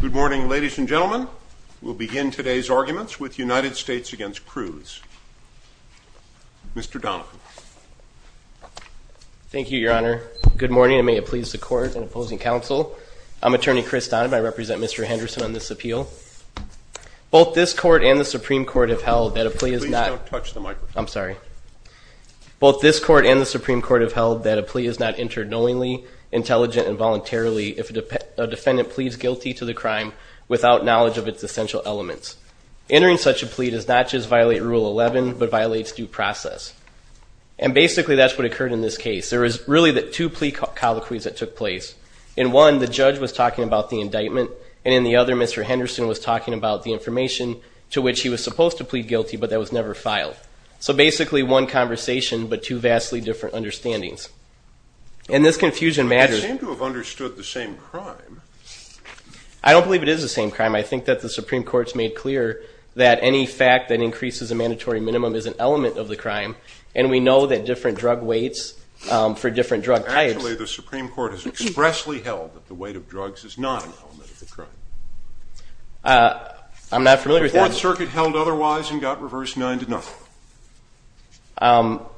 Good morning, ladies and gentlemen. We'll begin today's arguments with United States v. Cruse. Mr. Donovan. Thank you, Your Honor. Good morning, and may it please the Court and opposing counsel. I'm Attorney Chris Donovan. I represent Mr. Henderson on this appeal. Both this Court and the Supreme Court have held that a plea is not Please don't touch the microphone. I'm sorry. Both this Court and the Supreme Court have held that a plea is not entered knowingly, intelligent, and voluntarily if a defendant pleads guilty to the crime without knowledge of its essential elements. Entering such a plea does not just violate Rule 11, but violates due process. And basically that's what occurred in this case. There was really two plea colloquies that took place. In one, the judge was talking about the indictment. And in the other, Mr. Henderson was talking about the information to which he was supposed to plead guilty, but that was never filed. So basically one conversation, but two vastly different understandings. And this confusion matters. I seem to have understood the same crime. I don't believe it is the same crime. I think that the Supreme Court's made clear that any fact that increases a mandatory minimum is an element of the crime, and we know that different drug weights for different drug types. Actually, the Supreme Court has expressly held that the weight of drugs is not an element of the crime. I'm not familiar with that. The Fourth Circuit held otherwise and got reverse 9-0.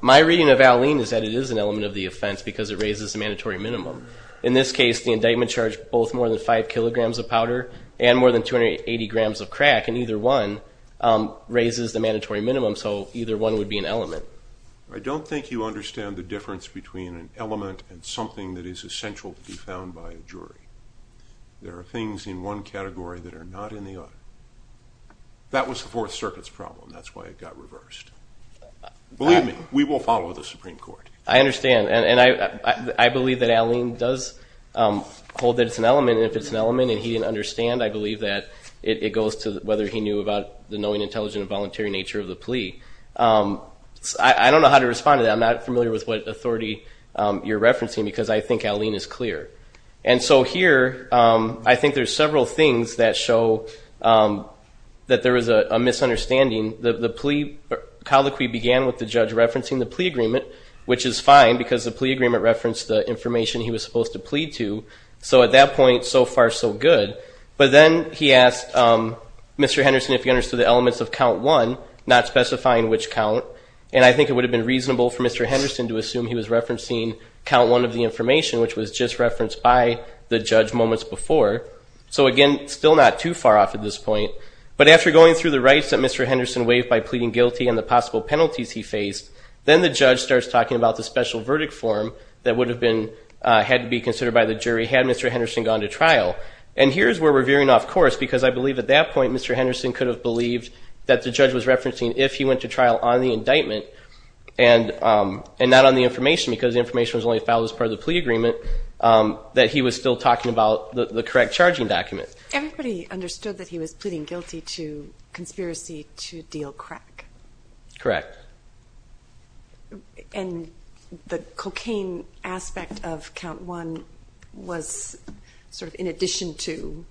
My reading of Alleen is that it is an element of the offense because it raises the mandatory minimum. In this case, the indictment charged both more than 5 kilograms of powder and more than 280 grams of crack, and either one raises the mandatory minimum, so either one would be an element. I don't think you understand the difference between an element and something that is essential to be found by a jury. There are things in one category that are not in the other. That was the Fourth Circuit's problem. That's why it got reversed. Believe me, we will follow the Supreme Court. I understand, and I believe that Alleen does hold that it's an element, and if it's an element and he didn't understand, I believe that it goes to whether he knew about the knowing, intelligent, and voluntary nature of the plea. I don't know how to respond to that. I'm not familiar with what authority you're referencing because I think Alleen is clear. Here, I think there's several things that show that there is a misunderstanding. The plea colloquy began with the judge referencing the plea agreement, which is fine because the plea agreement referenced the information he was supposed to plead to. At that point, so far, so good. But then he asked Mr. Henderson if he understood the elements of Count 1, not specifying which count, and I think it would have been reasonable for Mr. Henderson to assume he was referencing Count 1 of the information, which was just referenced by the judge moments before. So, again, still not too far off at this point. But after going through the rights that Mr. Henderson waived by pleading guilty and the possible penalties he faced, then the judge starts talking about the special verdict form that would have had to be considered by the jury had Mr. Henderson gone to trial. And here's where we're veering off course because I believe at that point Mr. Henderson could have believed that the judge was referencing if he went to trial on the indictment and not on the information because the information was only filed as part of the plea agreement, that he was still talking about the correct charging document. Everybody understood that he was pleading guilty to conspiracy to deal crack. Correct. And the cocaine aspect of Count 1 was sort of in addition to,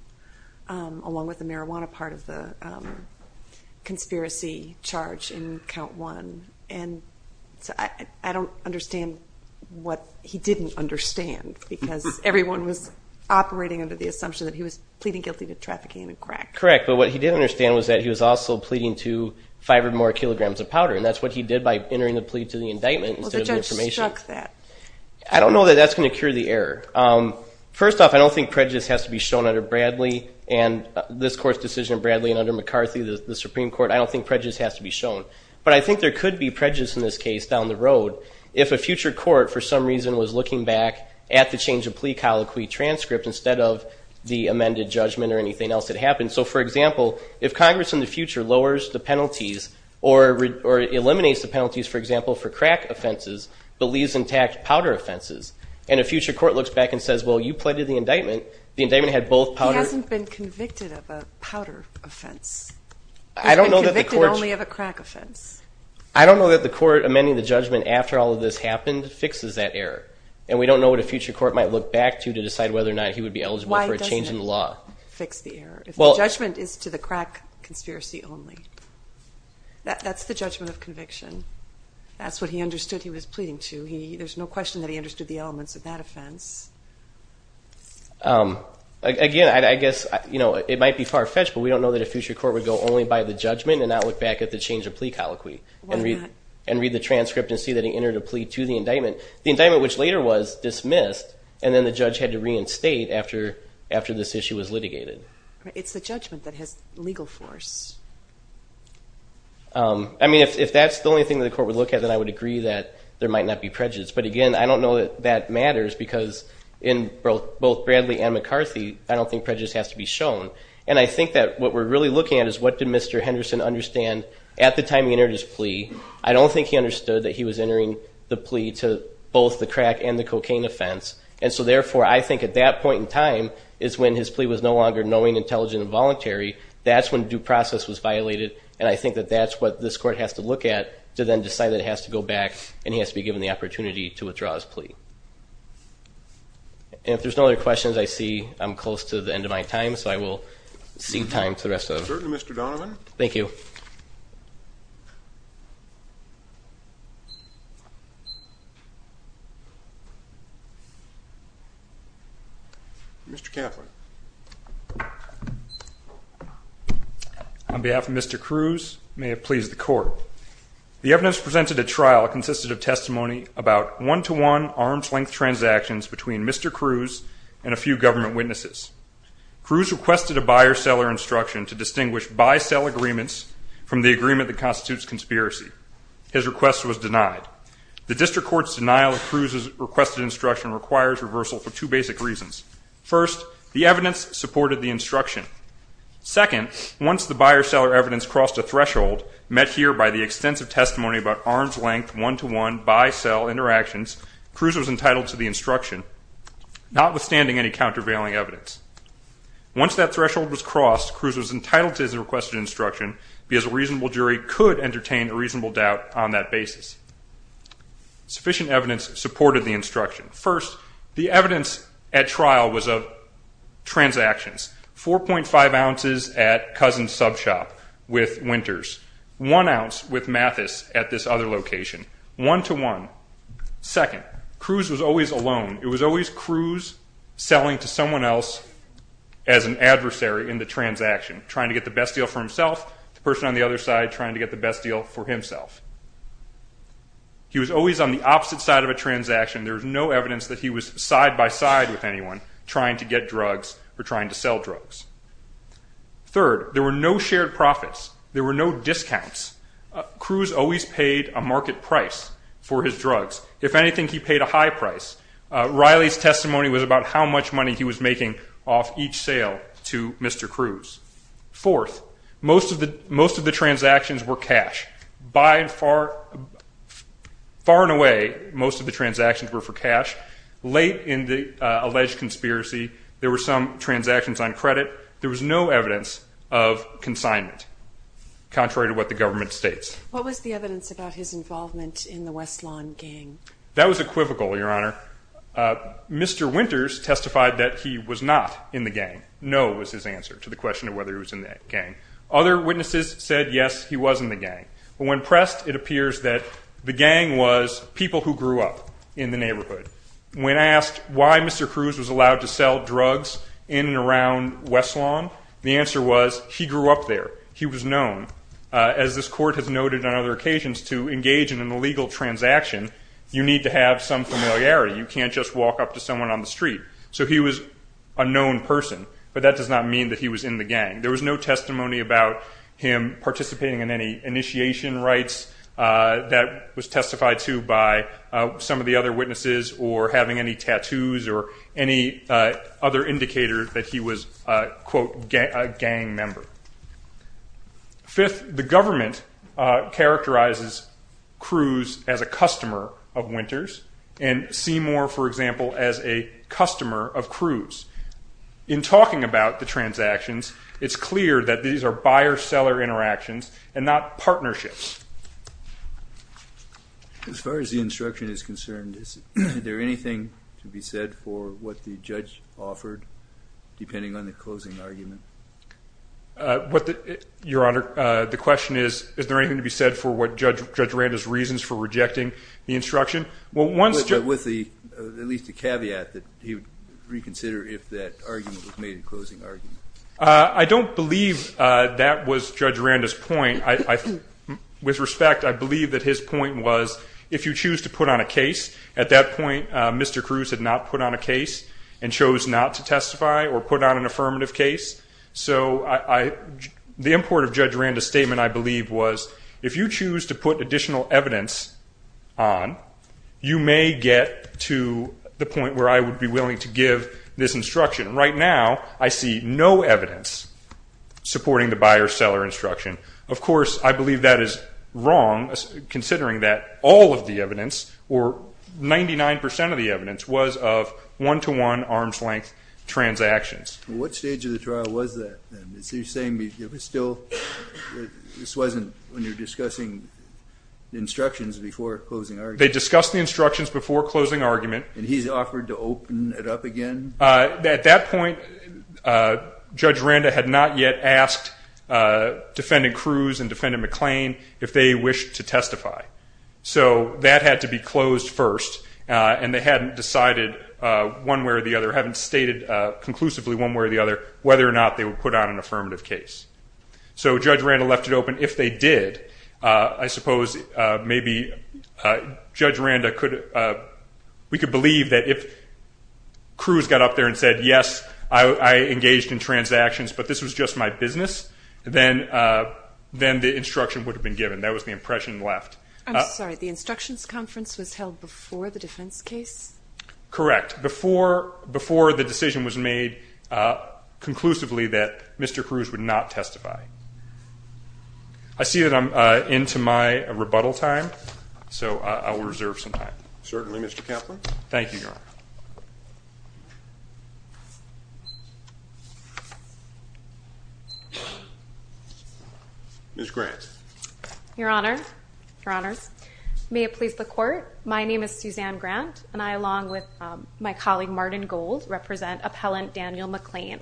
along with the marijuana part of the conspiracy charge in Count 1. I don't understand what he didn't understand because everyone was operating under the assumption that he was pleading guilty to trafficking in crack. Correct, but what he did understand was that he was also pleading to five or more kilograms of powder, and that's what he did by entering the plea to the indictment instead of the information. Well, the judge struck that. I don't know that that's going to cure the error. First off, I don't think prejudice has to be shown under Bradley and this Court's decision of Bradley and under McCarthy, the Supreme Court. I don't think prejudice has to be shown. But I think there could be prejudice in this case down the road if a future court, for some reason, was looking back at the change of plea colloquy transcript instead of the amended judgment or anything else that happened. So, for example, if Congress in the future lowers the penalties or eliminates the penalties, for example, for crack offenses, but leaves intact powder offenses, and a future court looks back and says, well, you pleaded the indictment, the indictment had both powder. He hasn't been convicted of a powder offense. He's been convicted only of a crack offense. I don't know that the Court amending the judgment after all of this happened fixes that error. And we don't know what a future court might look back to to decide whether or not he would be eligible for a change in the law. Why doesn't it fix the error if the judgment is to the crack conspiracy only? That's the judgment of conviction. That's what he understood he was pleading to. There's no question that he understood the elements of that offense. Again, I guess it might be far-fetched, but we don't know that a future court would go only by the judgment and not look back at the change of plea colloquy and read the transcript and see that he entered a plea to the indictment, the indictment which later was dismissed, and then the judge had to reinstate after this issue was litigated. It's the judgment that has legal force. I mean, if that's the only thing that the Court would look at, then I would agree that there might not be prejudice. But, again, I don't know that that matters because in both Bradley and McCarthy, I don't think prejudice has to be shown. And I think that what we're really looking at is, what did Mr. Henderson understand at the time he entered his plea? I don't think he understood that he was entering the plea to both the crack and the cocaine offense. And so, therefore, I think at that point in time is when his plea was no longer knowing, intelligent, and voluntary. That's when due process was violated, and I think that that's what this Court has to look at to then decide that it has to go back and he has to be given the opportunity to withdraw his plea. And if there's no other questions, I see I'm close to the end of my time, so I will cede time to the rest of them. Certainly, Mr. Donovan. Thank you. Mr. Kaplan. On behalf of Mr. Cruz, may it please the Court. The evidence presented at trial consisted of testimony about one-to-one, arm's-length transactions between Mr. Cruz and a few government witnesses. Cruz requested a buyer-seller instruction to distinguish buy-sell agreements from the agreement that constitutes conspiracy. His request was denied. The District Court's denial of Cruz's requested instruction requires reversal for two basic reasons. First, the evidence supported the instruction. Second, once the buyer-seller evidence crossed a threshold, met here by the extensive testimony about arm's-length, one-to-one, buy-sell interactions, Cruz was entitled to the instruction, notwithstanding any countervailing evidence. Once that threshold was crossed, Cruz was entitled to his requested instruction because a reasonable jury could entertain a reasonable doubt on that basis. Sufficient evidence supported the instruction. First, the evidence at trial was of transactions. 4.5 ounces at Cousin's Sub Shop with Winters. One ounce with Mathis at this other location. One-to-one. Second, Cruz was always alone. It was always Cruz selling to someone else as an adversary in the transaction, trying to get the best deal for himself, the person on the other side trying to get the best deal for himself. He was always on the opposite side of a transaction. There was no evidence that he was side-by-side with anyone trying to get drugs or trying to sell drugs. Third, there were no shared profits. There were no discounts. Cruz always paid a market price for his drugs. If anything, he paid a high price. Riley's testimony was about how much money he was making off each sale to Mr. Cruz. Fourth, most of the transactions were cash. Far and away, most of the transactions were for cash. Late in the alleged conspiracy, there were some transactions on credit. There was no evidence of consignment, contrary to what the government states. What was the evidence about his involvement in the West Lawn gang? That was equivocal, Your Honor. Mr. Winters testified that he was not in the gang. No was his answer to the question of whether he was in the gang. Other witnesses said, yes, he was in the gang. When pressed, it appears that the gang was people who grew up in the neighborhood. When asked why Mr. Cruz was allowed to sell drugs in and around West Lawn, the answer was he grew up there. He was known. As this court has noted on other occasions, to engage in an illegal transaction, you need to have some familiarity. You can't just walk up to someone on the street. So he was a known person, but that does not mean that he was in the gang. There was no testimony about him participating in any initiation rites. That was testified to by some of the other witnesses or having any tattoos or any other indicator that he was a, quote, gang member. Fifth, the government characterizes Cruz as a customer of Winters and Seymour, for example, as a customer of Cruz. In talking about the transactions, it's clear that these are buyer-seller interactions and not partnerships. As far as the instruction is concerned, is there anything to be said for what the judge offered, depending on the closing argument? Your Honor, the question is, is there anything to be said for what Judge Randa's reasons for rejecting the instruction? With at least a caveat that he would reconsider if that argument was made a closing argument. I don't believe that was Judge Randa's point. With respect, I believe that his point was if you choose to put on a case. At that point, Mr. Cruz had not put on a case and chose not to testify or put on an affirmative case. So the import of Judge Randa's statement, I believe, was, if you choose to put additional evidence on, you may get to the point where I would be willing to give this instruction. Right now, I see no evidence supporting the buyer-seller instruction. Of course, I believe that is wrong, considering that all of the evidence, or 99 percent of the evidence, was of one-to-one, arm's-length transactions. What stage of the trial was that, then? So you're saying this wasn't when you were discussing instructions before closing argument? They discussed the instructions before closing argument. And he's offered to open it up again? At that point, Judge Randa had not yet asked Defendant Cruz and Defendant McClain if they wished to testify. So that had to be closed first, and they hadn't decided one way or the other, hadn't stated conclusively one way or the other, whether or not they would put on an affirmative case. So Judge Randa left it open. If they did, I suppose maybe Judge Randa could, we could believe that if Cruz got up there and said, yes, I engaged in transactions, but this was just my business, then the instruction would have been given. That was the impression left. I'm sorry. The instructions conference was held before the defense case? Correct. Before the decision was made conclusively that Mr. Cruz would not testify. I see that I'm into my rebuttal time, so I will reserve some time. Certainly, Mr. Kaplan. Thank you, Your Honor. Ms. Grant. Your Honor, Your Honors, may it please the Court, my name is Suzanne Grant, and I, along with my colleague Martin Gold, represent Appellant Daniel McClain.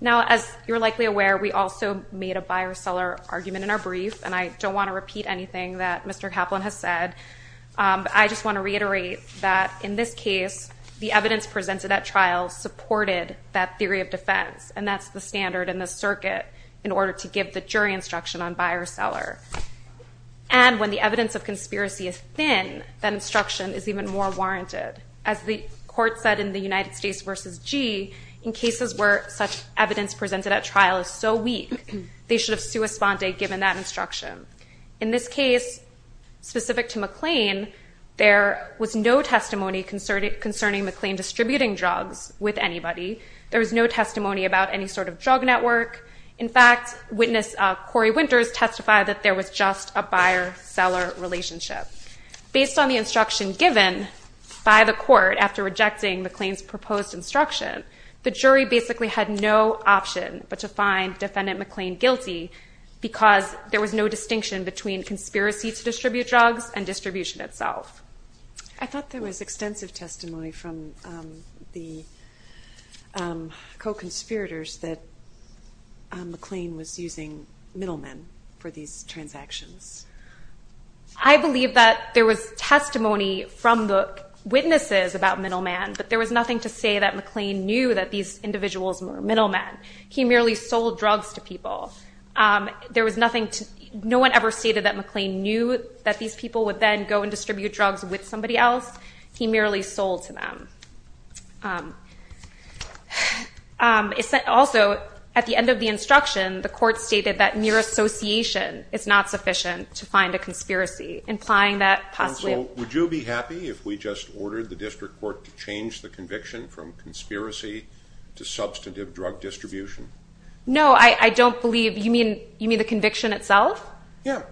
Now, as you're likely aware, we also made a buyer-seller argument in our brief, and I don't want to repeat anything that Mr. Kaplan has said. I just want to reiterate that in this case, the evidence presented at trial supported that theory of defense, and that's the standard in the circuit in order to give the jury instruction on buyer-seller. And when the evidence of conspiracy is thin, that instruction is even more warranted. As the Court said in the United States v. G., in cases where such evidence presented at trial is so weak, they should have sua sponte given that instruction. In this case, specific to McClain, there was no testimony concerning McClain distributing drugs with anybody. There was no testimony about any sort of drug network. In fact, witness Corey Winters testified that there was just a buyer-seller relationship. Based on the instruction given by the Court after rejecting McClain's proposed instruction, the jury basically had no option but to find Defendant McClain guilty because there was no distinction between conspiracy to distribute drugs and distribution itself. I thought there was extensive testimony from the co-conspirators that McClain was using middlemen for these transactions. I believe that there was testimony from the witnesses about middlemen, but there was nothing to say that McClain knew that these individuals were middlemen. He merely sold drugs to people. No one ever stated that McClain knew that these people would then go and distribute drugs with somebody else. He merely sold to them. Also, at the end of the instruction, the Court stated that mere association is not sufficient to find a conspiracy, implying that possibly. Counsel, would you be happy if we just ordered the District Court to change the conviction from conspiracy to substantive drug distribution? No, I don't believe. You mean the conviction itself? Yes.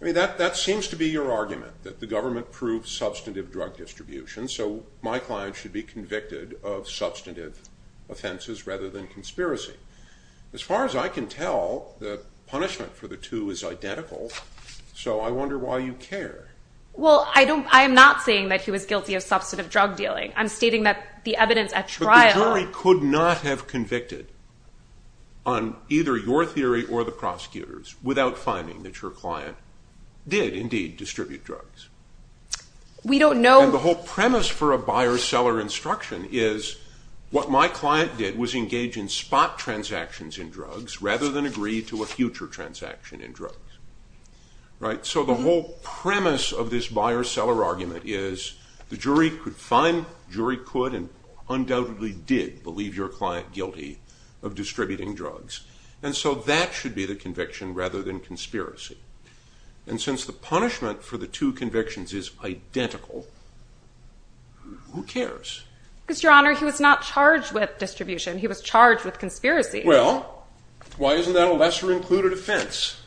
That seems to be your argument, that the government proves substantive drug distribution, so my client should be convicted of substantive offenses rather than conspiracy. As far as I can tell, the punishment for the two is identical, so I wonder why you care. Well, I am not saying that he was guilty of substantive drug dealing. I'm stating that the evidence at trial. But the jury could not have convicted on either your theory or the prosecutors without finding that your client did indeed distribute drugs. We don't know. And the whole premise for a buyer-seller instruction is what my client did was engage in spot transactions in drugs rather than agree to a future transaction in drugs. Right? So the whole premise of this buyer-seller argument is the jury could find, jury could and undoubtedly did believe your client guilty of distributing drugs. And so that should be the conviction rather than conspiracy. And since the punishment for the two convictions is identical, who cares? Because, Your Honor, he was not charged with distribution. He was charged with conspiracy. Well, why isn't that a lesser-included offense?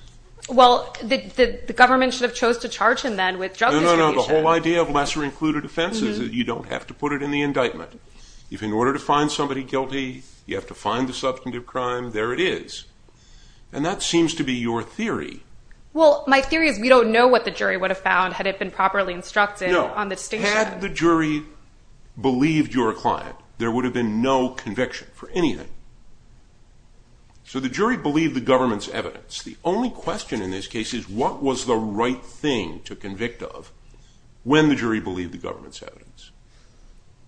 Well, the government should have chose to charge him then with drug distribution. No, no, no. The whole idea of lesser-included offense is that you don't have to put it in the indictment. If in order to find somebody guilty, you have to find the substantive crime, there it is. And that seems to be your theory. Well, my theory is we don't know what the jury would have found had it been properly instructed on the distinction. Had the jury believed your client, there would have been no conviction for anything. So the jury believed the government's evidence. The only question in this case is what was the right thing to convict of when the jury believed the government's evidence.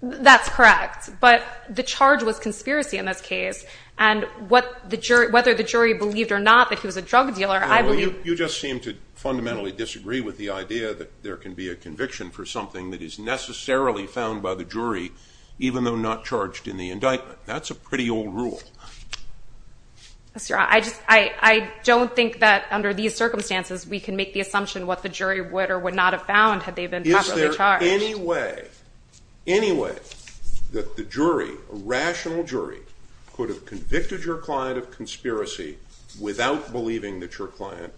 That's correct. But the charge was conspiracy in this case. And whether the jury believed or not that he was a drug dealer, I believe – You just seem to fundamentally disagree with the idea that there can be a conviction necessarily found by the jury even though not charged in the indictment. That's a pretty old rule. I don't think that under these circumstances we can make the assumption what the jury would or would not have found had they been properly charged. Is there any way that the jury, a rational jury, could have convicted your client of conspiracy without believing that your client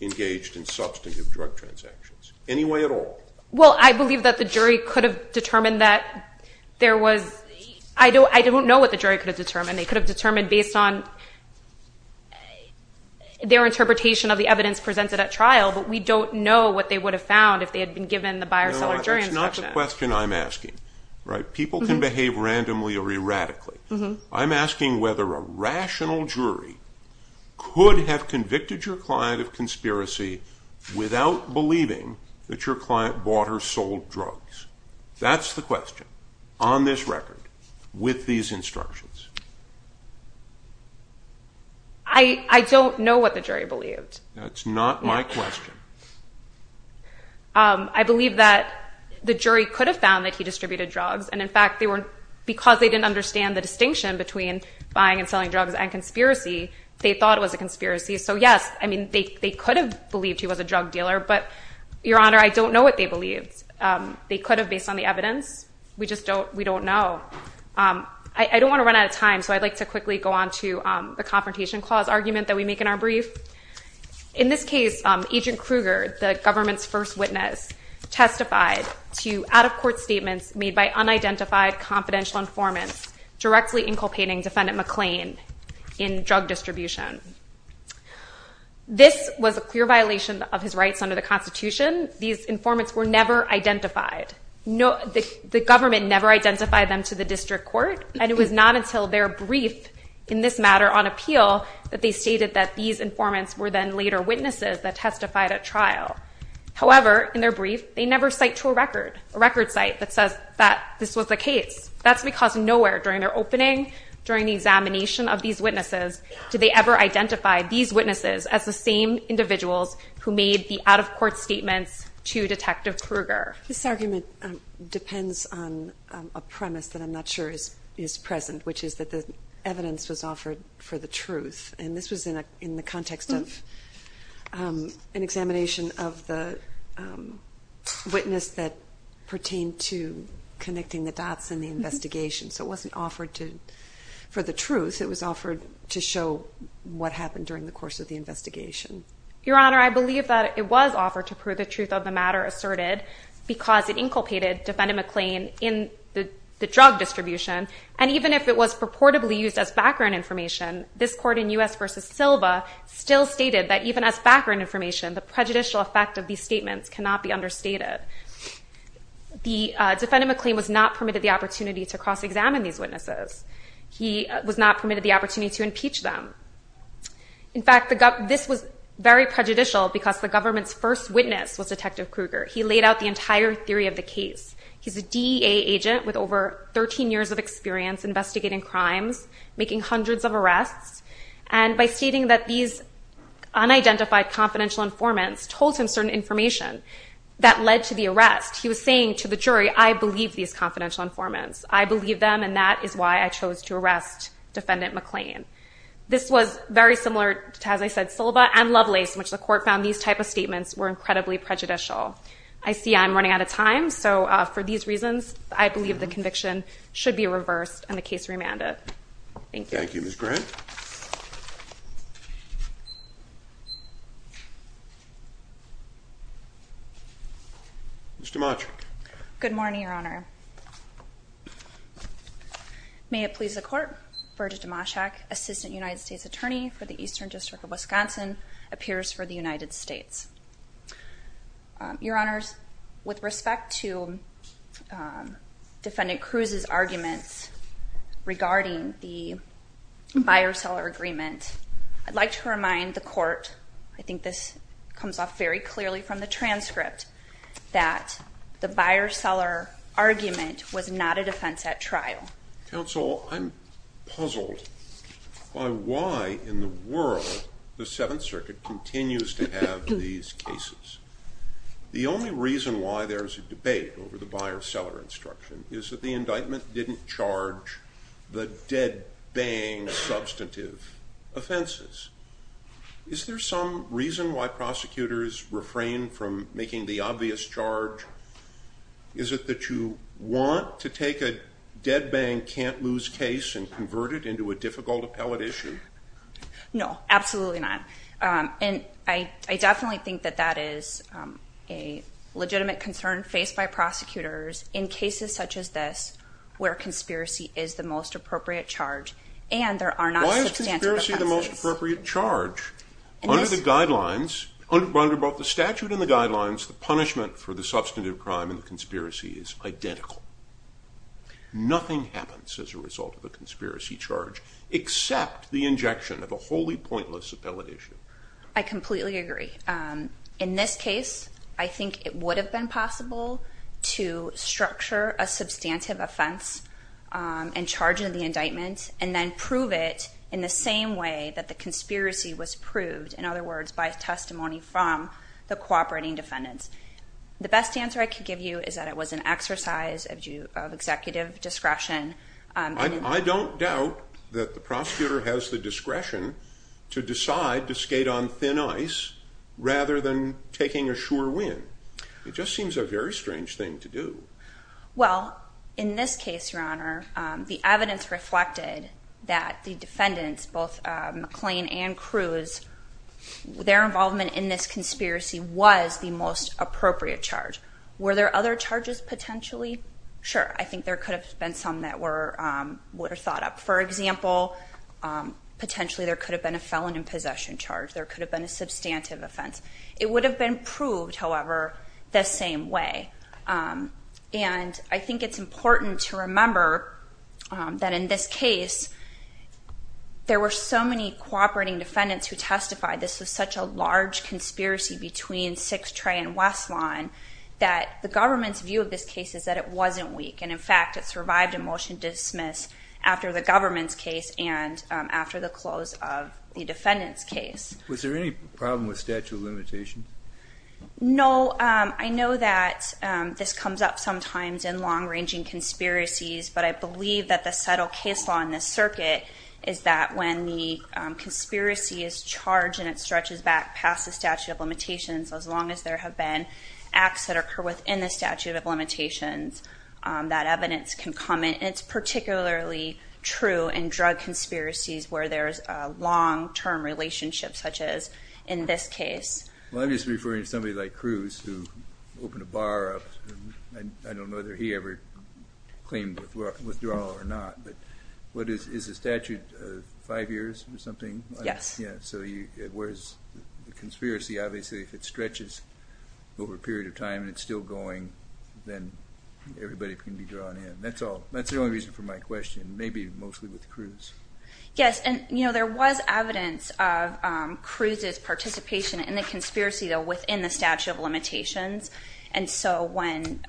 engaged in substantive drug transactions? Any way at all? Well, I believe that the jury could have determined that there was – I don't know what the jury could have determined. They could have determined based on their interpretation of the evidence presented at trial. But we don't know what they would have found if they had been given the buyer-seller jury instruction. No, that's not the question I'm asking. People can behave randomly or erratically. I'm asking whether a rational jury could have convicted your client of buying or selling drugs. That's the question on this record with these instructions. I don't know what the jury believed. That's not my question. I believe that the jury could have found that he distributed drugs. And, in fact, because they didn't understand the distinction between buying and selling drugs and conspiracy, they thought it was a conspiracy. So, yes, I mean, they could have believed he was a drug dealer. But, Your Honor, I don't know what they believed. They could have based on the evidence. We just don't know. I don't want to run out of time, so I'd like to quickly go on to the Confrontation Clause argument that we make in our brief. In this case, Agent Kruger, the government's first witness, testified to out-of-court statements made by unidentified confidential informants directly inculpating Defendant McClain in drug distribution. This was a clear violation of his rights under the Constitution. These informants were never identified. The government never identified them to the district court, and it was not until their brief in this matter on appeal that they stated that these informants were then later witnesses that testified at trial. However, in their brief, they never cite to a record, a record cite that says that this was the case. That's because nowhere during their opening, during the examination of these witnesses, did they ever identify these witnesses as the same individuals who made the out-of-court statements to Detective Kruger. This argument depends on a premise that I'm not sure is present, which is that the evidence was offered for the truth. And this was in the context of an examination of the witness that pertained to connecting the dots in the investigation. So it wasn't offered for the truth. It was offered to show what happened during the course of the investigation. Your Honor, I believe that it was offered to prove the truth of the matter asserted because it inculpated Defendant McClain in the drug distribution. And even if it was purportedly used as background information, this court in U.S. v. Silva still stated that even as background information, the prejudicial effect of these statements cannot be understated. Defendant McClain was not permitted the opportunity to cross-examine these witnesses. He was not permitted the opportunity to impeach them. In fact, this was very prejudicial because the government's first witness was Detective Kruger. He laid out the entire theory of the case. He's a DEA agent with over 13 years of experience investigating crimes, making hundreds of arrests. And by stating that these unidentified confidential informants told him certain information that led to the arrest, he was saying to the jury, I believe these confidential informants. I believe them, and that is why I chose to arrest Defendant McClain. This was very similar to, as I said, Silva and Lovelace, in which the court found these type of statements were incredibly prejudicial. I see I'm running out of time. So for these reasons, I believe the conviction should be reversed and the case remanded. Thank you. Thank you. Ms. Grant? Ms. DiMaggio. Good morning, Your Honor. May it please the court, Virjit Dimashak, Assistant United States Attorney for the Eastern District of Wisconsin, appears for the United States. Your Honors, with respect to Defendant Cruz's arguments regarding the buyer-seller agreement, I'd like to remind the court, I think this comes off very clearly from the transcript, that the buyer-seller argument was not a defense at trial. Counsel, I'm puzzled by why, in the world, the Seventh Circuit continues to have these cases. The only reason why there's a debate over the buyer-seller instruction is that the indictment didn't charge the dead-bang substantive offenses. Is there some reason why prosecutors refrain from making the obvious charge? Is it that you want to take a dead-bang, can't-lose case and convert it into a difficult appellate issue? No, absolutely not. And I definitely think that that is a legitimate concern faced by prosecutors in cases such as this, where conspiracy is the most appropriate charge, and there are not substantive offenses. Why is conspiracy the most appropriate charge? Under the guidelines, under both the statute and the guidelines, the punishment for the substantive crime in the conspiracy is identical. Nothing happens as a result of a conspiracy charge, except the injection of a wholly pointless appellate issue. I completely agree. In this case, I think it would have been possible to structure a and then prove it in the same way that the conspiracy was proved, in other words, by testimony from the cooperating defendants. The best answer I could give you is that it was an exercise of executive discretion. I don't doubt that the prosecutor has the discretion to decide to skate on thin ice rather than taking a sure win. It just seems a very strange thing to do. Well, in this case, Your Honor, the evidence reflected that the defendants, both McClain and Cruz, their involvement in this conspiracy was the most appropriate charge. Were there other charges potentially? Sure. I think there could have been some that were thought up. For example, potentially there could have been a felon in possession charge. There could have been a substantive offense. It would have been proved, however, the same way. I think it's important to remember that in this case, there were so many cooperating defendants who testified this was such a large conspiracy between Sixth Tray and West Lawn that the government's view of this case is that it wasn't weak. In fact, it survived a motion to dismiss after the government's case and after the close of the defendant's case. Was there any problem with statute of limitations? No. I know that this comes up sometimes in long-ranging conspiracies, but I believe that the subtle case law in this circuit is that when the conspiracy is charged and it stretches back past the statute of limitations, as long as there have been acts that occur within the statute of limitations, that evidence can come in. It's particularly true in drug conspiracies where there's a long-term relationship, such as in this case. Well, I'm just referring to somebody like Cruz who opened a bar up. I don't know whether he ever claimed withdrawal or not, but is the statute five years or something? Yes. So whereas the conspiracy, obviously, if it stretches over a period of time and it's still going, then everybody can be drawn in. That's the only reason for my question. Maybe mostly with Cruz. Yes. There was evidence of Cruz's participation in the conspiracy, though, within the statute of limitations. And so when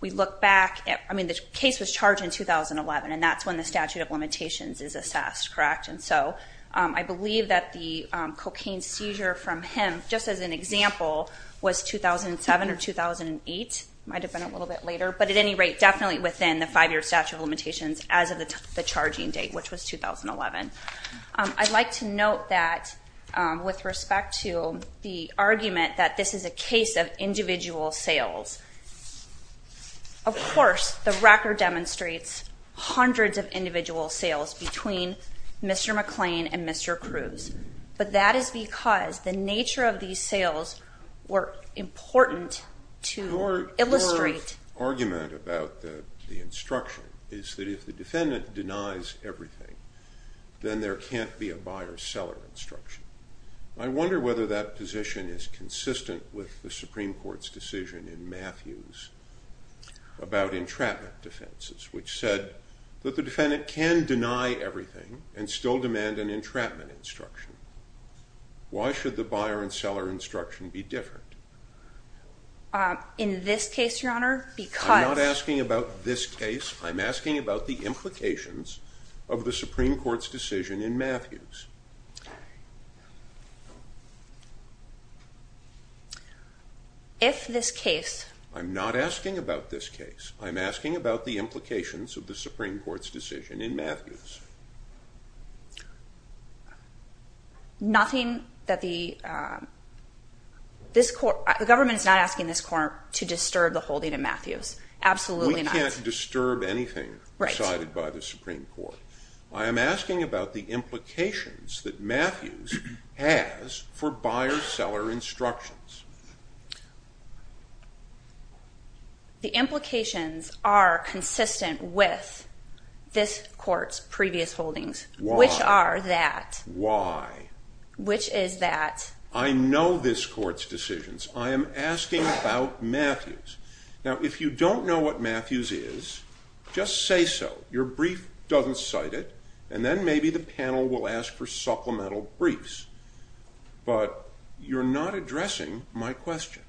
we look back, I mean, the case was charged in 2011, and that's when the statute of limitations is assessed, correct? And so I believe that the cocaine seizure from him, just as an example, was 2007 or 2008. It might have been a little bit later, but at any rate, definitely within the five-year statute of limitations as of the I'd like to note that with respect to the argument that this is a case of individual sales, of course, the record demonstrates hundreds of individual sales between Mr. McClain and Mr. Cruz. But that is because the nature of these sales were important to illustrate. Your argument about the instruction is that if the defendant denies everything, then there can't be a buyer-seller instruction. I wonder whether that position is consistent with the Supreme Court's decision in Matthews about entrapment defenses, which said that the defendant can deny everything and still demand an entrapment instruction. Why should the buyer and seller instruction be different? In this case, Your Honor, because I'm not asking about this case. I'm asking about the implications of the Supreme Court's decision in Matthews. If this case I'm not asking about this case. I'm asking about the implications of the Supreme Court's decision in Matthews. Nothing that the this court, the government is not asking this court to disturb the holding in Matthews. Absolutely not. We can't disturb anything decided by the Supreme Court. I am asking about the implications that Matthews has for buyer-seller instructions. The implications are consistent with this court's previous holdings. Why? Which are that. Why? Which is that. I know this court's decisions. I am asking about Matthews. Now if you don't know what Matthews is, just say so. Your brief doesn't cite it and then maybe the panel will ask for supplemental briefs. But you're not addressing my question.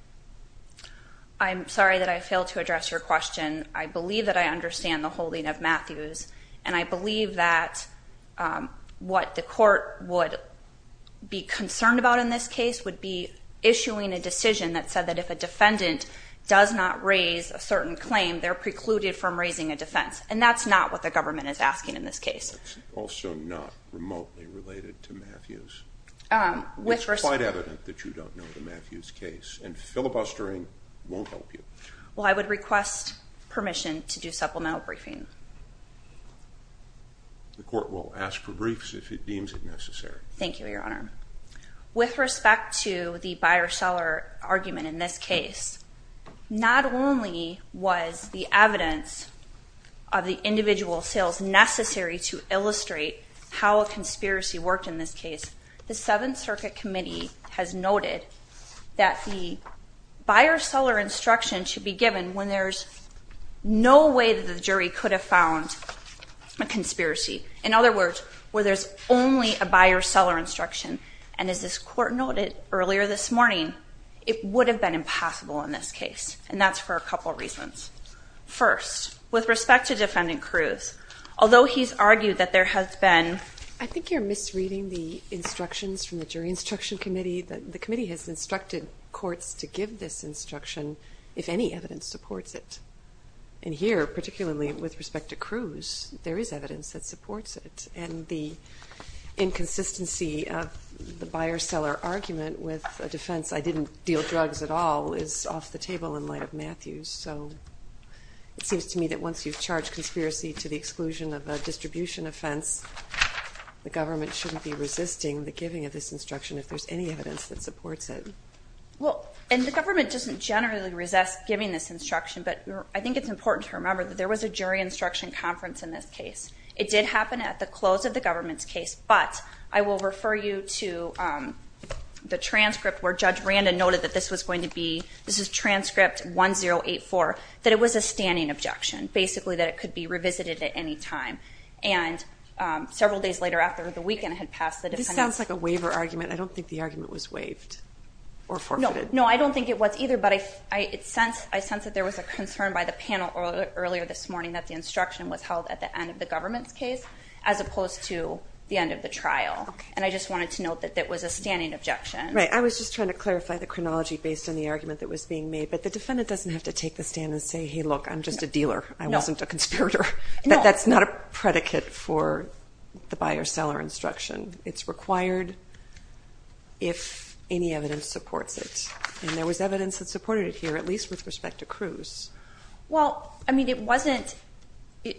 I'm sorry that I failed to address your question. I believe that I understand the holding of Matthews and I believe that what the court would be concerned about in this case would be issuing a decision that said that if a defendant does not raise a certain claim, they're precluded from raising a defense. And that's not what the government is asking in this case. That's also not remotely related to Matthews. It's quite evident that you don't know the Matthews case and filibustering won't help you. Well, I would request permission to do supplemental briefing. The court will ask for briefs if it deems it necessary. Thank you, Your Honor. With respect to the buyer-seller argument in this case, not only was the evidence of the individual sales necessary to illustrate how a conspiracy worked in this case, the Seventh Circuit Committee has noted that the buyer-seller instruction should be given when there's no way that the jury could have found a conspiracy. In other words, where there's only a buyer-seller instruction. And as this court noted earlier this morning, it would have been impossible in this case. And that's for a couple reasons. First, with respect to Defendant Cruz, although he's argued that there has been... I think you're misreading the instructions from the Jury Instruction Committee. The committee has instructed courts to give this instruction if any evidence supports it. And here, particularly with respect to Cruz, there is evidence that supports it. And the inconsistency of the buyer-seller argument with a defense, I didn't deal drugs at all, is off the table in light of Matthews. So it seems to me that once you've charged conspiracy to the exclusion of a distribution offense, the government shouldn't be resisting the giving of this instruction if there's any evidence that supports it. Well, and the government doesn't generally resist giving this instruction, but I think it's important to remember that there was a jury instruction conference in this case. It did happen at the close of the government's case, but I will refer you to the transcript where Judge Brandon noted that this was going to be... This is transcript 1084, that it was a standing objection, basically, that it could be revisited at any time. And several days later, after the weekend had passed... This sounds like a waiver argument. I don't think the argument was waived or forfeited. No, I don't think it was either, but I sense that there was a concern by the panel earlier this morning that the instruction was held at the end of the government's case as opposed to the end of the trial, and I just wanted to note that that was a standing objection. Right, I was just trying to clarify the chronology based on the argument that was being made, but the defendant doesn't have to take the stand and say, hey, look, I'm just a dealer. I wasn't a conspirator. That's not a predicate for the buy or sell our instruction. It's required if any evidence supports it, and there was evidence that supported it here, at least with respect to Cruz. Well, I mean, it wasn't...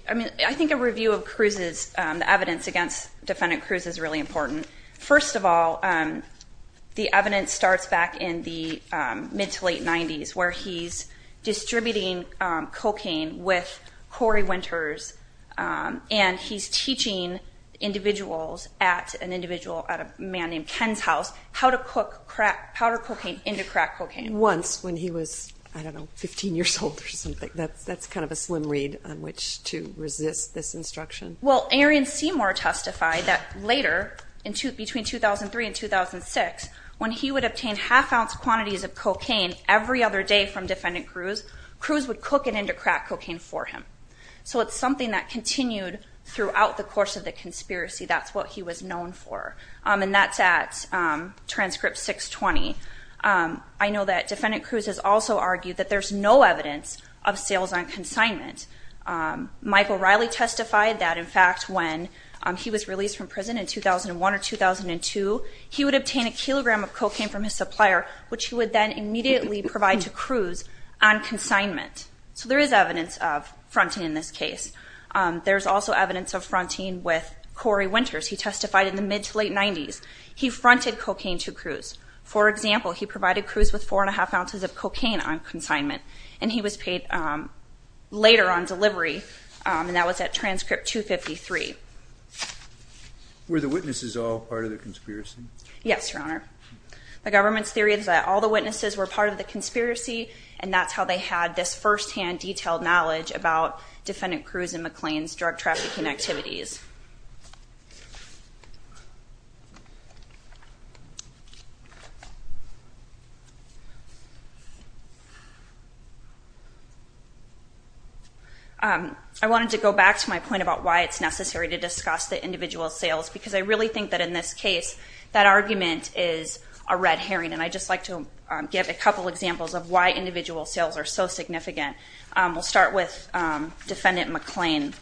I think a review of Cruz's evidence against defendant Cruz is really important. First of all, the evidence starts back in the mid-to-late 90s where he's distributing cocaine with Cory Winters, and he's teaching individuals at an individual, at a man named Ken's house, how to cook powder cocaine into crack cocaine. Once, when he was, I don't know, 15 years old or something. That's kind of a slim read on which to resist this instruction. Well, Aaron Seymour testified that later, between 2003 and 2006, when he would obtain half-ounce quantities of cocaine every other day from defendant Cruz, Cruz would cook it into crack cocaine for him. So it's something that continued throughout the course of the conspiracy. That's what he was known for. And that's at transcript 620. I know that defendant Cruz has also argued that there's no evidence of sales on consignment. Michael Riley testified that, in fact, when he was released from prison in 2001 or 2002, he would obtain a kilogram of cocaine from his supplier, which he would then immediately provide to Cruz on consignment. So there is evidence of fronting in this case. There's also evidence of fronting with Cory Winters. He testified in the mid-to-late 90s. He fronted cocaine to Cruz. For example, he provided Cruz with 4 1⁄2 ounces of cocaine on consignment, and he was paid later on delivery, and that was at transcript 253. Were the witnesses all part of the conspiracy? Yes, Your Honor. The government's theory is that all the witnesses were part of the conspiracy, and that's how they had this firsthand detailed knowledge about defendant Cruz and McLean's drug-trafficking activities. I wanted to go back to my point about why it's necessary to discuss the individual sales because I really think that, in this case, that argument is a red herring, and I'd just like to give a couple examples of why individual sales are so significant. We'll start with defendant McLean.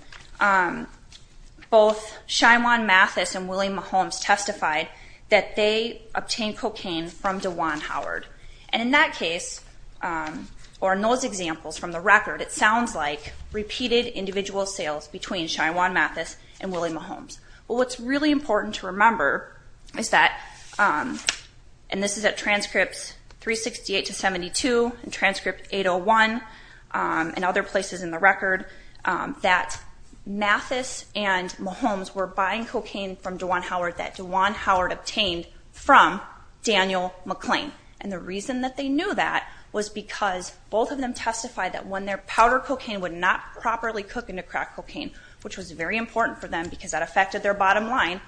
Both Shyamwan Mathis and William Holmes testified that they obtained cocaine from DeJuan Howard. And in that case, or in those examples from the record, it sounds like repeated individual sales between Shyamwan Mathis and William Holmes. Well, what's really important to remember is that, and this is at transcripts 368-72 and transcript 801 and other places in the record, that Mathis and Holmes were buying cocaine from DeJuan Howard that DeJuan Howard obtained from Daniel McLean. And the reason that they knew that was because both of them testified that when their powder cocaine would not properly cook into crack cocaine, which was very important for them because that affected their bottom line,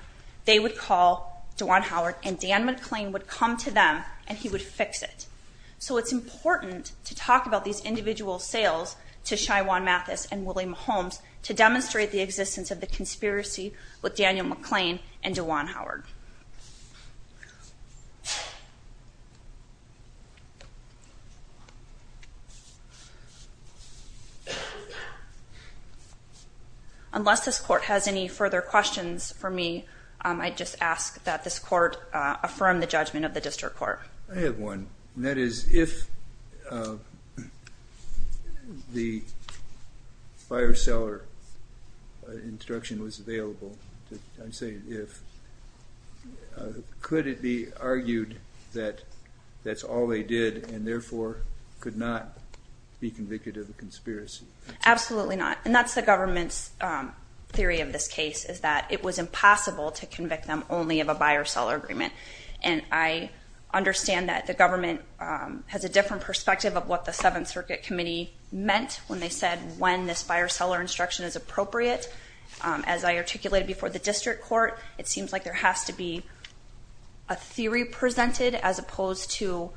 they would call DeJuan Howard and Dan McLean would come to them and he would fix it. So it's important to talk about these individual sales to Shyamwan Mathis and William Holmes to demonstrate the existence of the conspiracy with Daniel McLean and DeJuan Howard. Unless this court has any further questions for me, I just ask that this court affirm the judgment of the district court. I have one. That is, if the buyer-seller instruction was available, I'm saying if, could it be argued that that's all they did and therefore could not be convicted of a conspiracy? Absolutely not. And that's the government's theory of this case is that it was impossible to convict them only of a buyer-seller agreement. And I understand that the government has a different perspective of what the Seventh Circuit Committee meant when they said when this buyer-seller instruction is appropriate. As I articulated before the district court, it seems like there has to be a theory presented as opposed to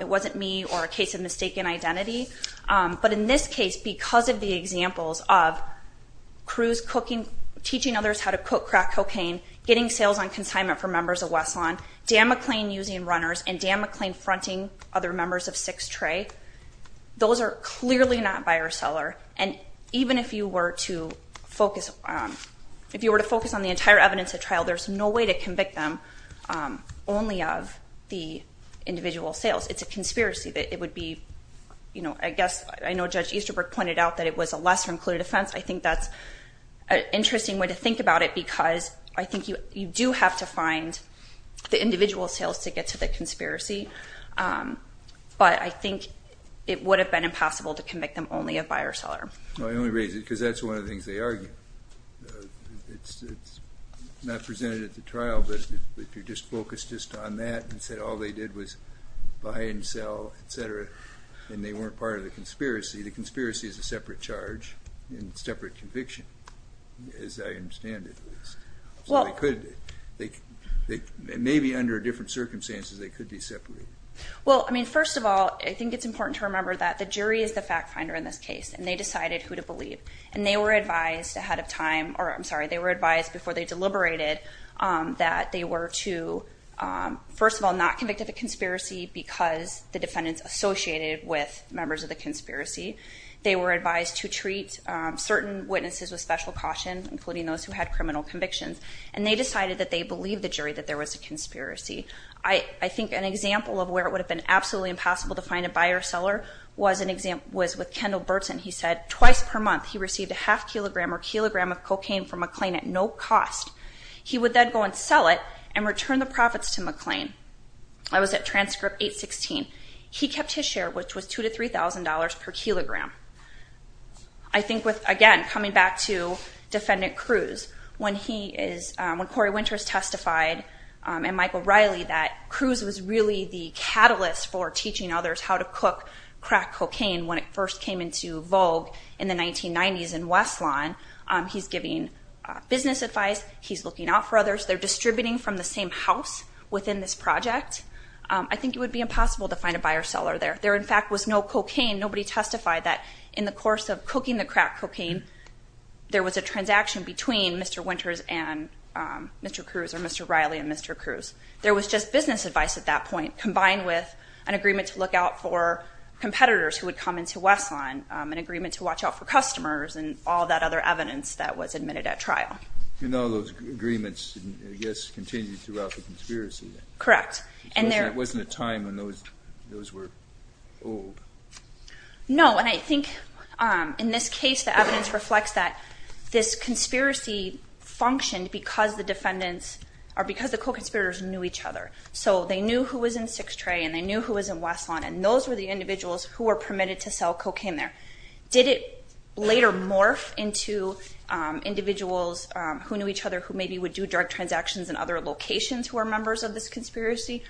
it wasn't me or a case of mistaken identity. But in this case, because of the examples of crews cooking, teaching others how to cook crack cocaine, getting sales on consignment for members of West Lawn, Dan McLean using runners, and Dan McLean fronting other members of Six Tray, those are clearly not buyer-seller. And even if you were to focus on the entire evidence at trial, there's no way to convict them only of the individual sales. It's a conspiracy. I know Judge Easterbrook pointed out that it was a lesser-included offense. I think that's an interesting way to think about it because I think you do have to find the individual sales to get to the conspiracy. But I think it would have been impossible to convict them only of buyer-seller. I only raise it because that's one of the things they argue. It's not presented at the trial, but if you just focus just on that and said all they did was buy and sell, et cetera, and they weren't part of the conspiracy, the conspiracy is a separate charge and separate conviction, as I understand it. Maybe under different circumstances they could be separated. Well, I mean, first of all, I think it's important to remember that the jury is the fact-finder in this case, and they decided who to believe. And they were advised ahead of time, or I'm sorry, they were advised before they deliberated that they were to, first of all, not convict of a conspiracy because the defendants associated with members of the conspiracy. They were advised to treat certain witnesses with special caution, including those who had criminal convictions, and they decided that they believed the jury that there was a conspiracy. I think an example of where it would have been absolutely impossible to find a buyer-seller was with Kendall Burtson. He said twice per month he received a half kilogram or kilogram of cocaine from McLean at no cost. He would then go and sell it and return the profits to McLean. That was at transcript 816. He kept his share, which was $2,000 to $3,000 per kilogram. I think with, again, coming back to Defendant Cruz, when Corey Winters testified and Michael Riley that Cruz was really the catalyst for teaching others how to cook crack cocaine when it first came into vogue in the 1990s in West Lawn, he's giving business advice, he's looking out for others, they're distributing from the same house within this project. I think it would be impossible to find a buyer-seller there. There, in fact, was no cocaine. Nobody testified that in the course of cooking the crack cocaine, there was a transaction between Mr. Winters and Mr. Cruz or Mr. Riley and Mr. Cruz. There was just business advice at that point, combined with an agreement to look out for competitors who would come into West Lawn, an agreement to watch out for customers, and all that other evidence that was admitted at trial. You know those agreements, I guess, continued throughout the conspiracy. Correct. It wasn't a time when those were old. No, and I think in this case the evidence reflects that this conspiracy functioned because the defendants, or because the co-conspirators knew each other. So they knew who was in Six Tray and they knew who was in West Lawn, and those were the individuals who were permitted to sell cocaine there. Did it later morph into individuals who knew each other who maybe would do drug transactions in other locations who were members of this conspiracy?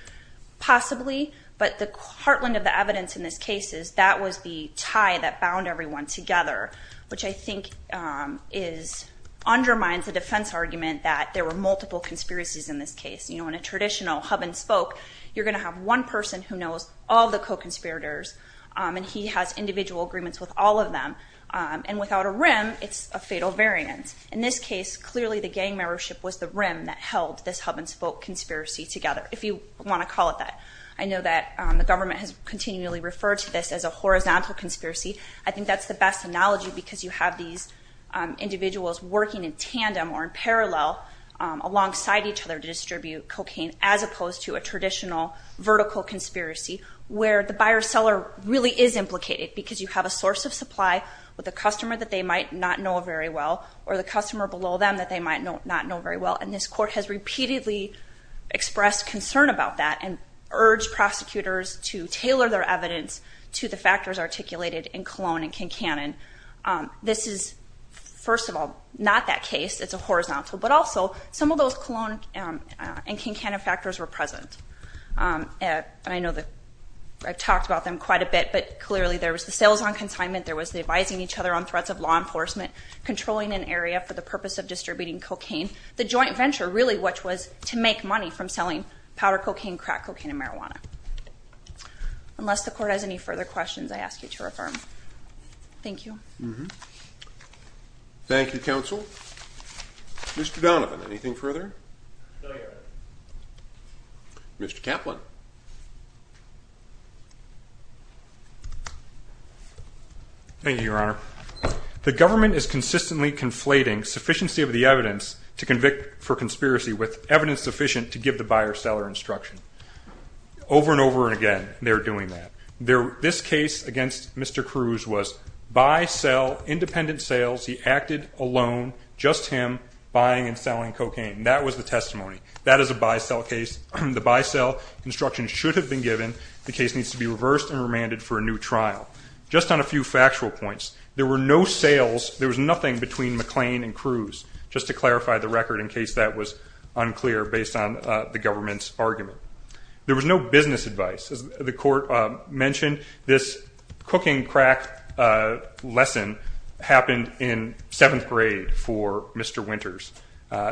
Possibly, but the heartland of the evidence in this case is that was the tie that bound everyone together, which I think undermines the defense argument that there were multiple conspiracies in this case. You know, in a traditional hub and spoke, you're going to have one person who knows all the co-conspirators and he has individual agreements with all of them, and without a rim, it's a fatal variance. In this case, clearly the gang membership was the rim that held this hub and spoke conspiracy together, if you want to call it that. I know that the government has continually referred to this as a horizontal conspiracy. I think that's the best analogy because you have these individuals working in tandem or in parallel alongside each other to distribute cocaine, as opposed to a traditional vertical conspiracy where the buyer-seller really is implicated because you have a source of supply with a customer that they might not know very well or the customer below them that they might not know very well, and this court has repeatedly expressed concern about that and urged prosecutors to tailor their evidence to the factors articulated in Cologne and Kincannon. This is, first of all, not that case. It's a horizontal, but also some of those Cologne and Kincannon factors were present. I know that I've talked about them quite a bit, but clearly there was the sales on consignment, there was the advising each other on threats of law enforcement, controlling an area for the purpose of distributing cocaine, the joint venture really which was to make money from selling powder cocaine, crack cocaine, and marijuana. Unless the court has any further questions, I ask you to affirm. Thank you. Thank you, counsel. Mr. Donovan, anything further? No, Your Honor. Mr. Kaplan. Thank you, Your Honor. The government is consistently conflating sufficiency of the evidence to convict for conspiracy with evidence sufficient to give the buyer-seller instruction. Over and over again, they're doing that. This case against Mr. Cruz was buy, sell, independent sales. He acted alone, just him, buying and selling cocaine. That was the testimony. That is a buy-sell case. The buy-sell instruction should have been given. The case needs to be reversed and remanded for a new trial. Just on a few factual points, there were no sales, there was nothing between McLean and Cruz, just to clarify the record in case that was unclear based on the government's argument. There was no business advice. As the court mentioned, this cooking crack lesson happened in seventh grade for Mr. Winters.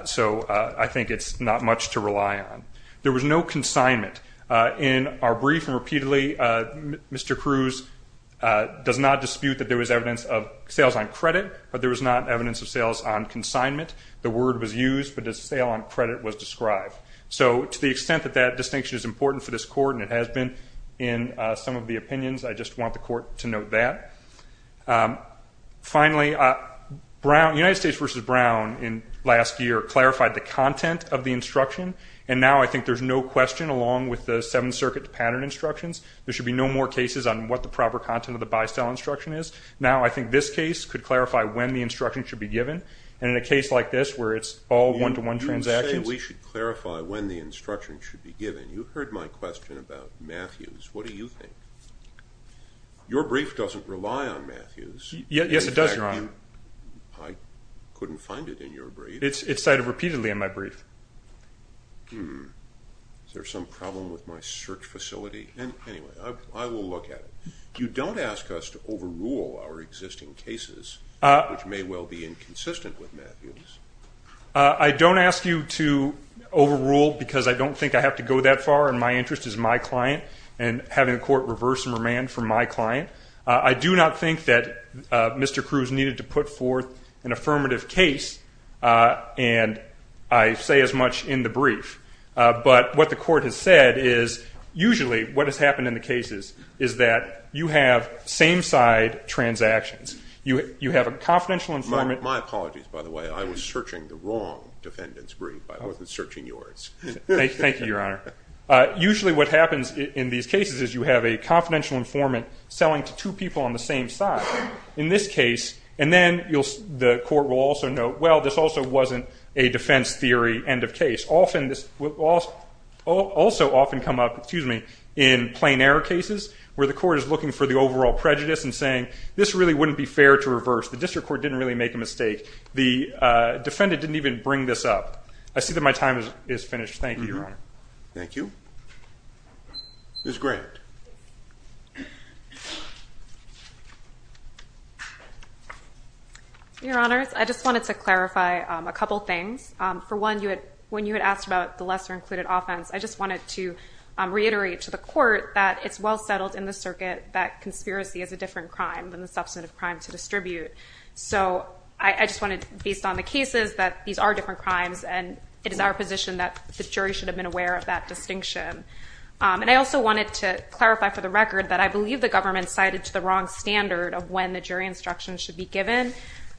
So I think it's not much to rely on. There was no consignment. In our brief and repeatedly, Mr. Cruz does not dispute that there was evidence of sales on credit, but there was not evidence of sales on consignment. The word was used, but the sale on credit was described. So to the extent that that distinction is important for this court, and it has been in some of the opinions, I just want the court to note that. Finally, United States v. Brown last year clarified the content of the instruction, and now I think there's no question along with the Seventh Circuit pattern instructions, there should be no more cases on what the proper content of the buy-sell instruction is. Now I think this case could clarify when the instruction should be given, and in a case like this where it's all one-to-one transactions. You say we should clarify when the instruction should be given. You heard my question about Matthews. What do you think? Your brief doesn't rely on Matthews. Yes, it does, Your Honor. I couldn't find it in your brief. It's cited repeatedly in my brief. Is there some problem with my search facility? Anyway, I will look at it. You don't ask us to overrule our existing cases, which may well be inconsistent with Matthews. I don't ask you to overrule because I don't think I have to go that far, and my interest is my client and having the court reverse and remand for my client. I do not think that Mr. Cruz needed to put forth an affirmative case, and I say as much in the brief. But what the court has said is usually what has happened in the cases is that you have same-side transactions. You have a confidential informant. My apologies, by the way. I was searching the wrong defendant's brief. I wasn't searching yours. Thank you, Your Honor. Usually what happens in these cases is you have a confidential informant selling to two people on the same side. In this case, and then the court will also note, well, this also wasn't a defense theory end of case. Also often come up in plain error cases where the court is looking for the overall prejudice and saying, this really wouldn't be fair to reverse. The district court didn't really make a mistake. The defendant didn't even bring this up. I see that my time is finished. Thank you, Your Honor. Thank you. Ms. Grant. Your Honors, I just wanted to clarify a couple things. For one, when you had asked about the lesser-included offense, I just wanted to reiterate to the court that it's well settled in the circuit that conspiracy is a different crime than the substantive crime to distribute. I just wanted, based on the cases, that these are different crimes, and it is our position that the jury should have been aware of that distinction. I also wanted to clarify for the record that I believe the government cited to the wrong standard of when the jury instruction should be given.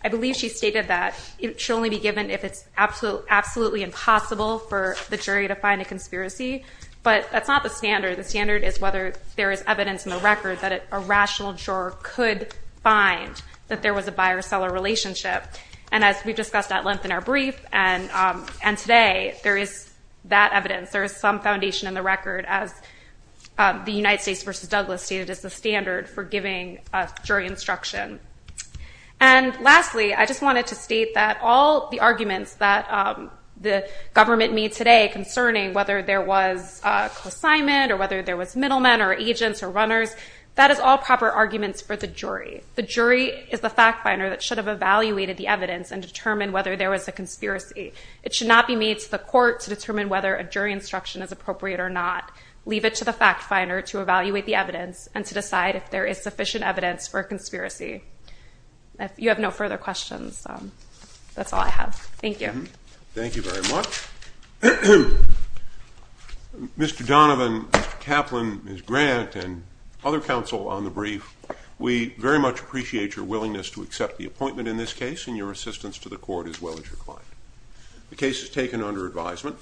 I believe she stated that it should only be given if it's absolutely impossible for the jury to find a conspiracy, but that's not the standard. The standard is whether there is evidence in the record that a rational juror could find that there was a buyer-seller relationship. And as we discussed at length in our brief and today, there is that evidence. There is some foundation in the record, as the United States v. Douglas stated, as the standard for giving jury instruction. And lastly, I just wanted to state that all the arguments that the government made today concerning whether there was co-assignment or whether there was middlemen or agents or runners, that is all proper arguments for the jury. The jury is the fact finder that should have evaluated the evidence and determined whether there was a conspiracy. It should not be made to the court to determine whether a jury instruction is appropriate or not. Leave it to the fact finder to evaluate the evidence and to decide if there is sufficient evidence for a conspiracy. If you have no further questions, that's all I have. Thank you. Thank you very much. Mr. Donovan, Mr. Kaplan, Ms. Grant and other counsel on the brief, we very much appreciate your willingness to accept the appointment in this case and your assistance to the court as well as your client. The case is taken under advisement.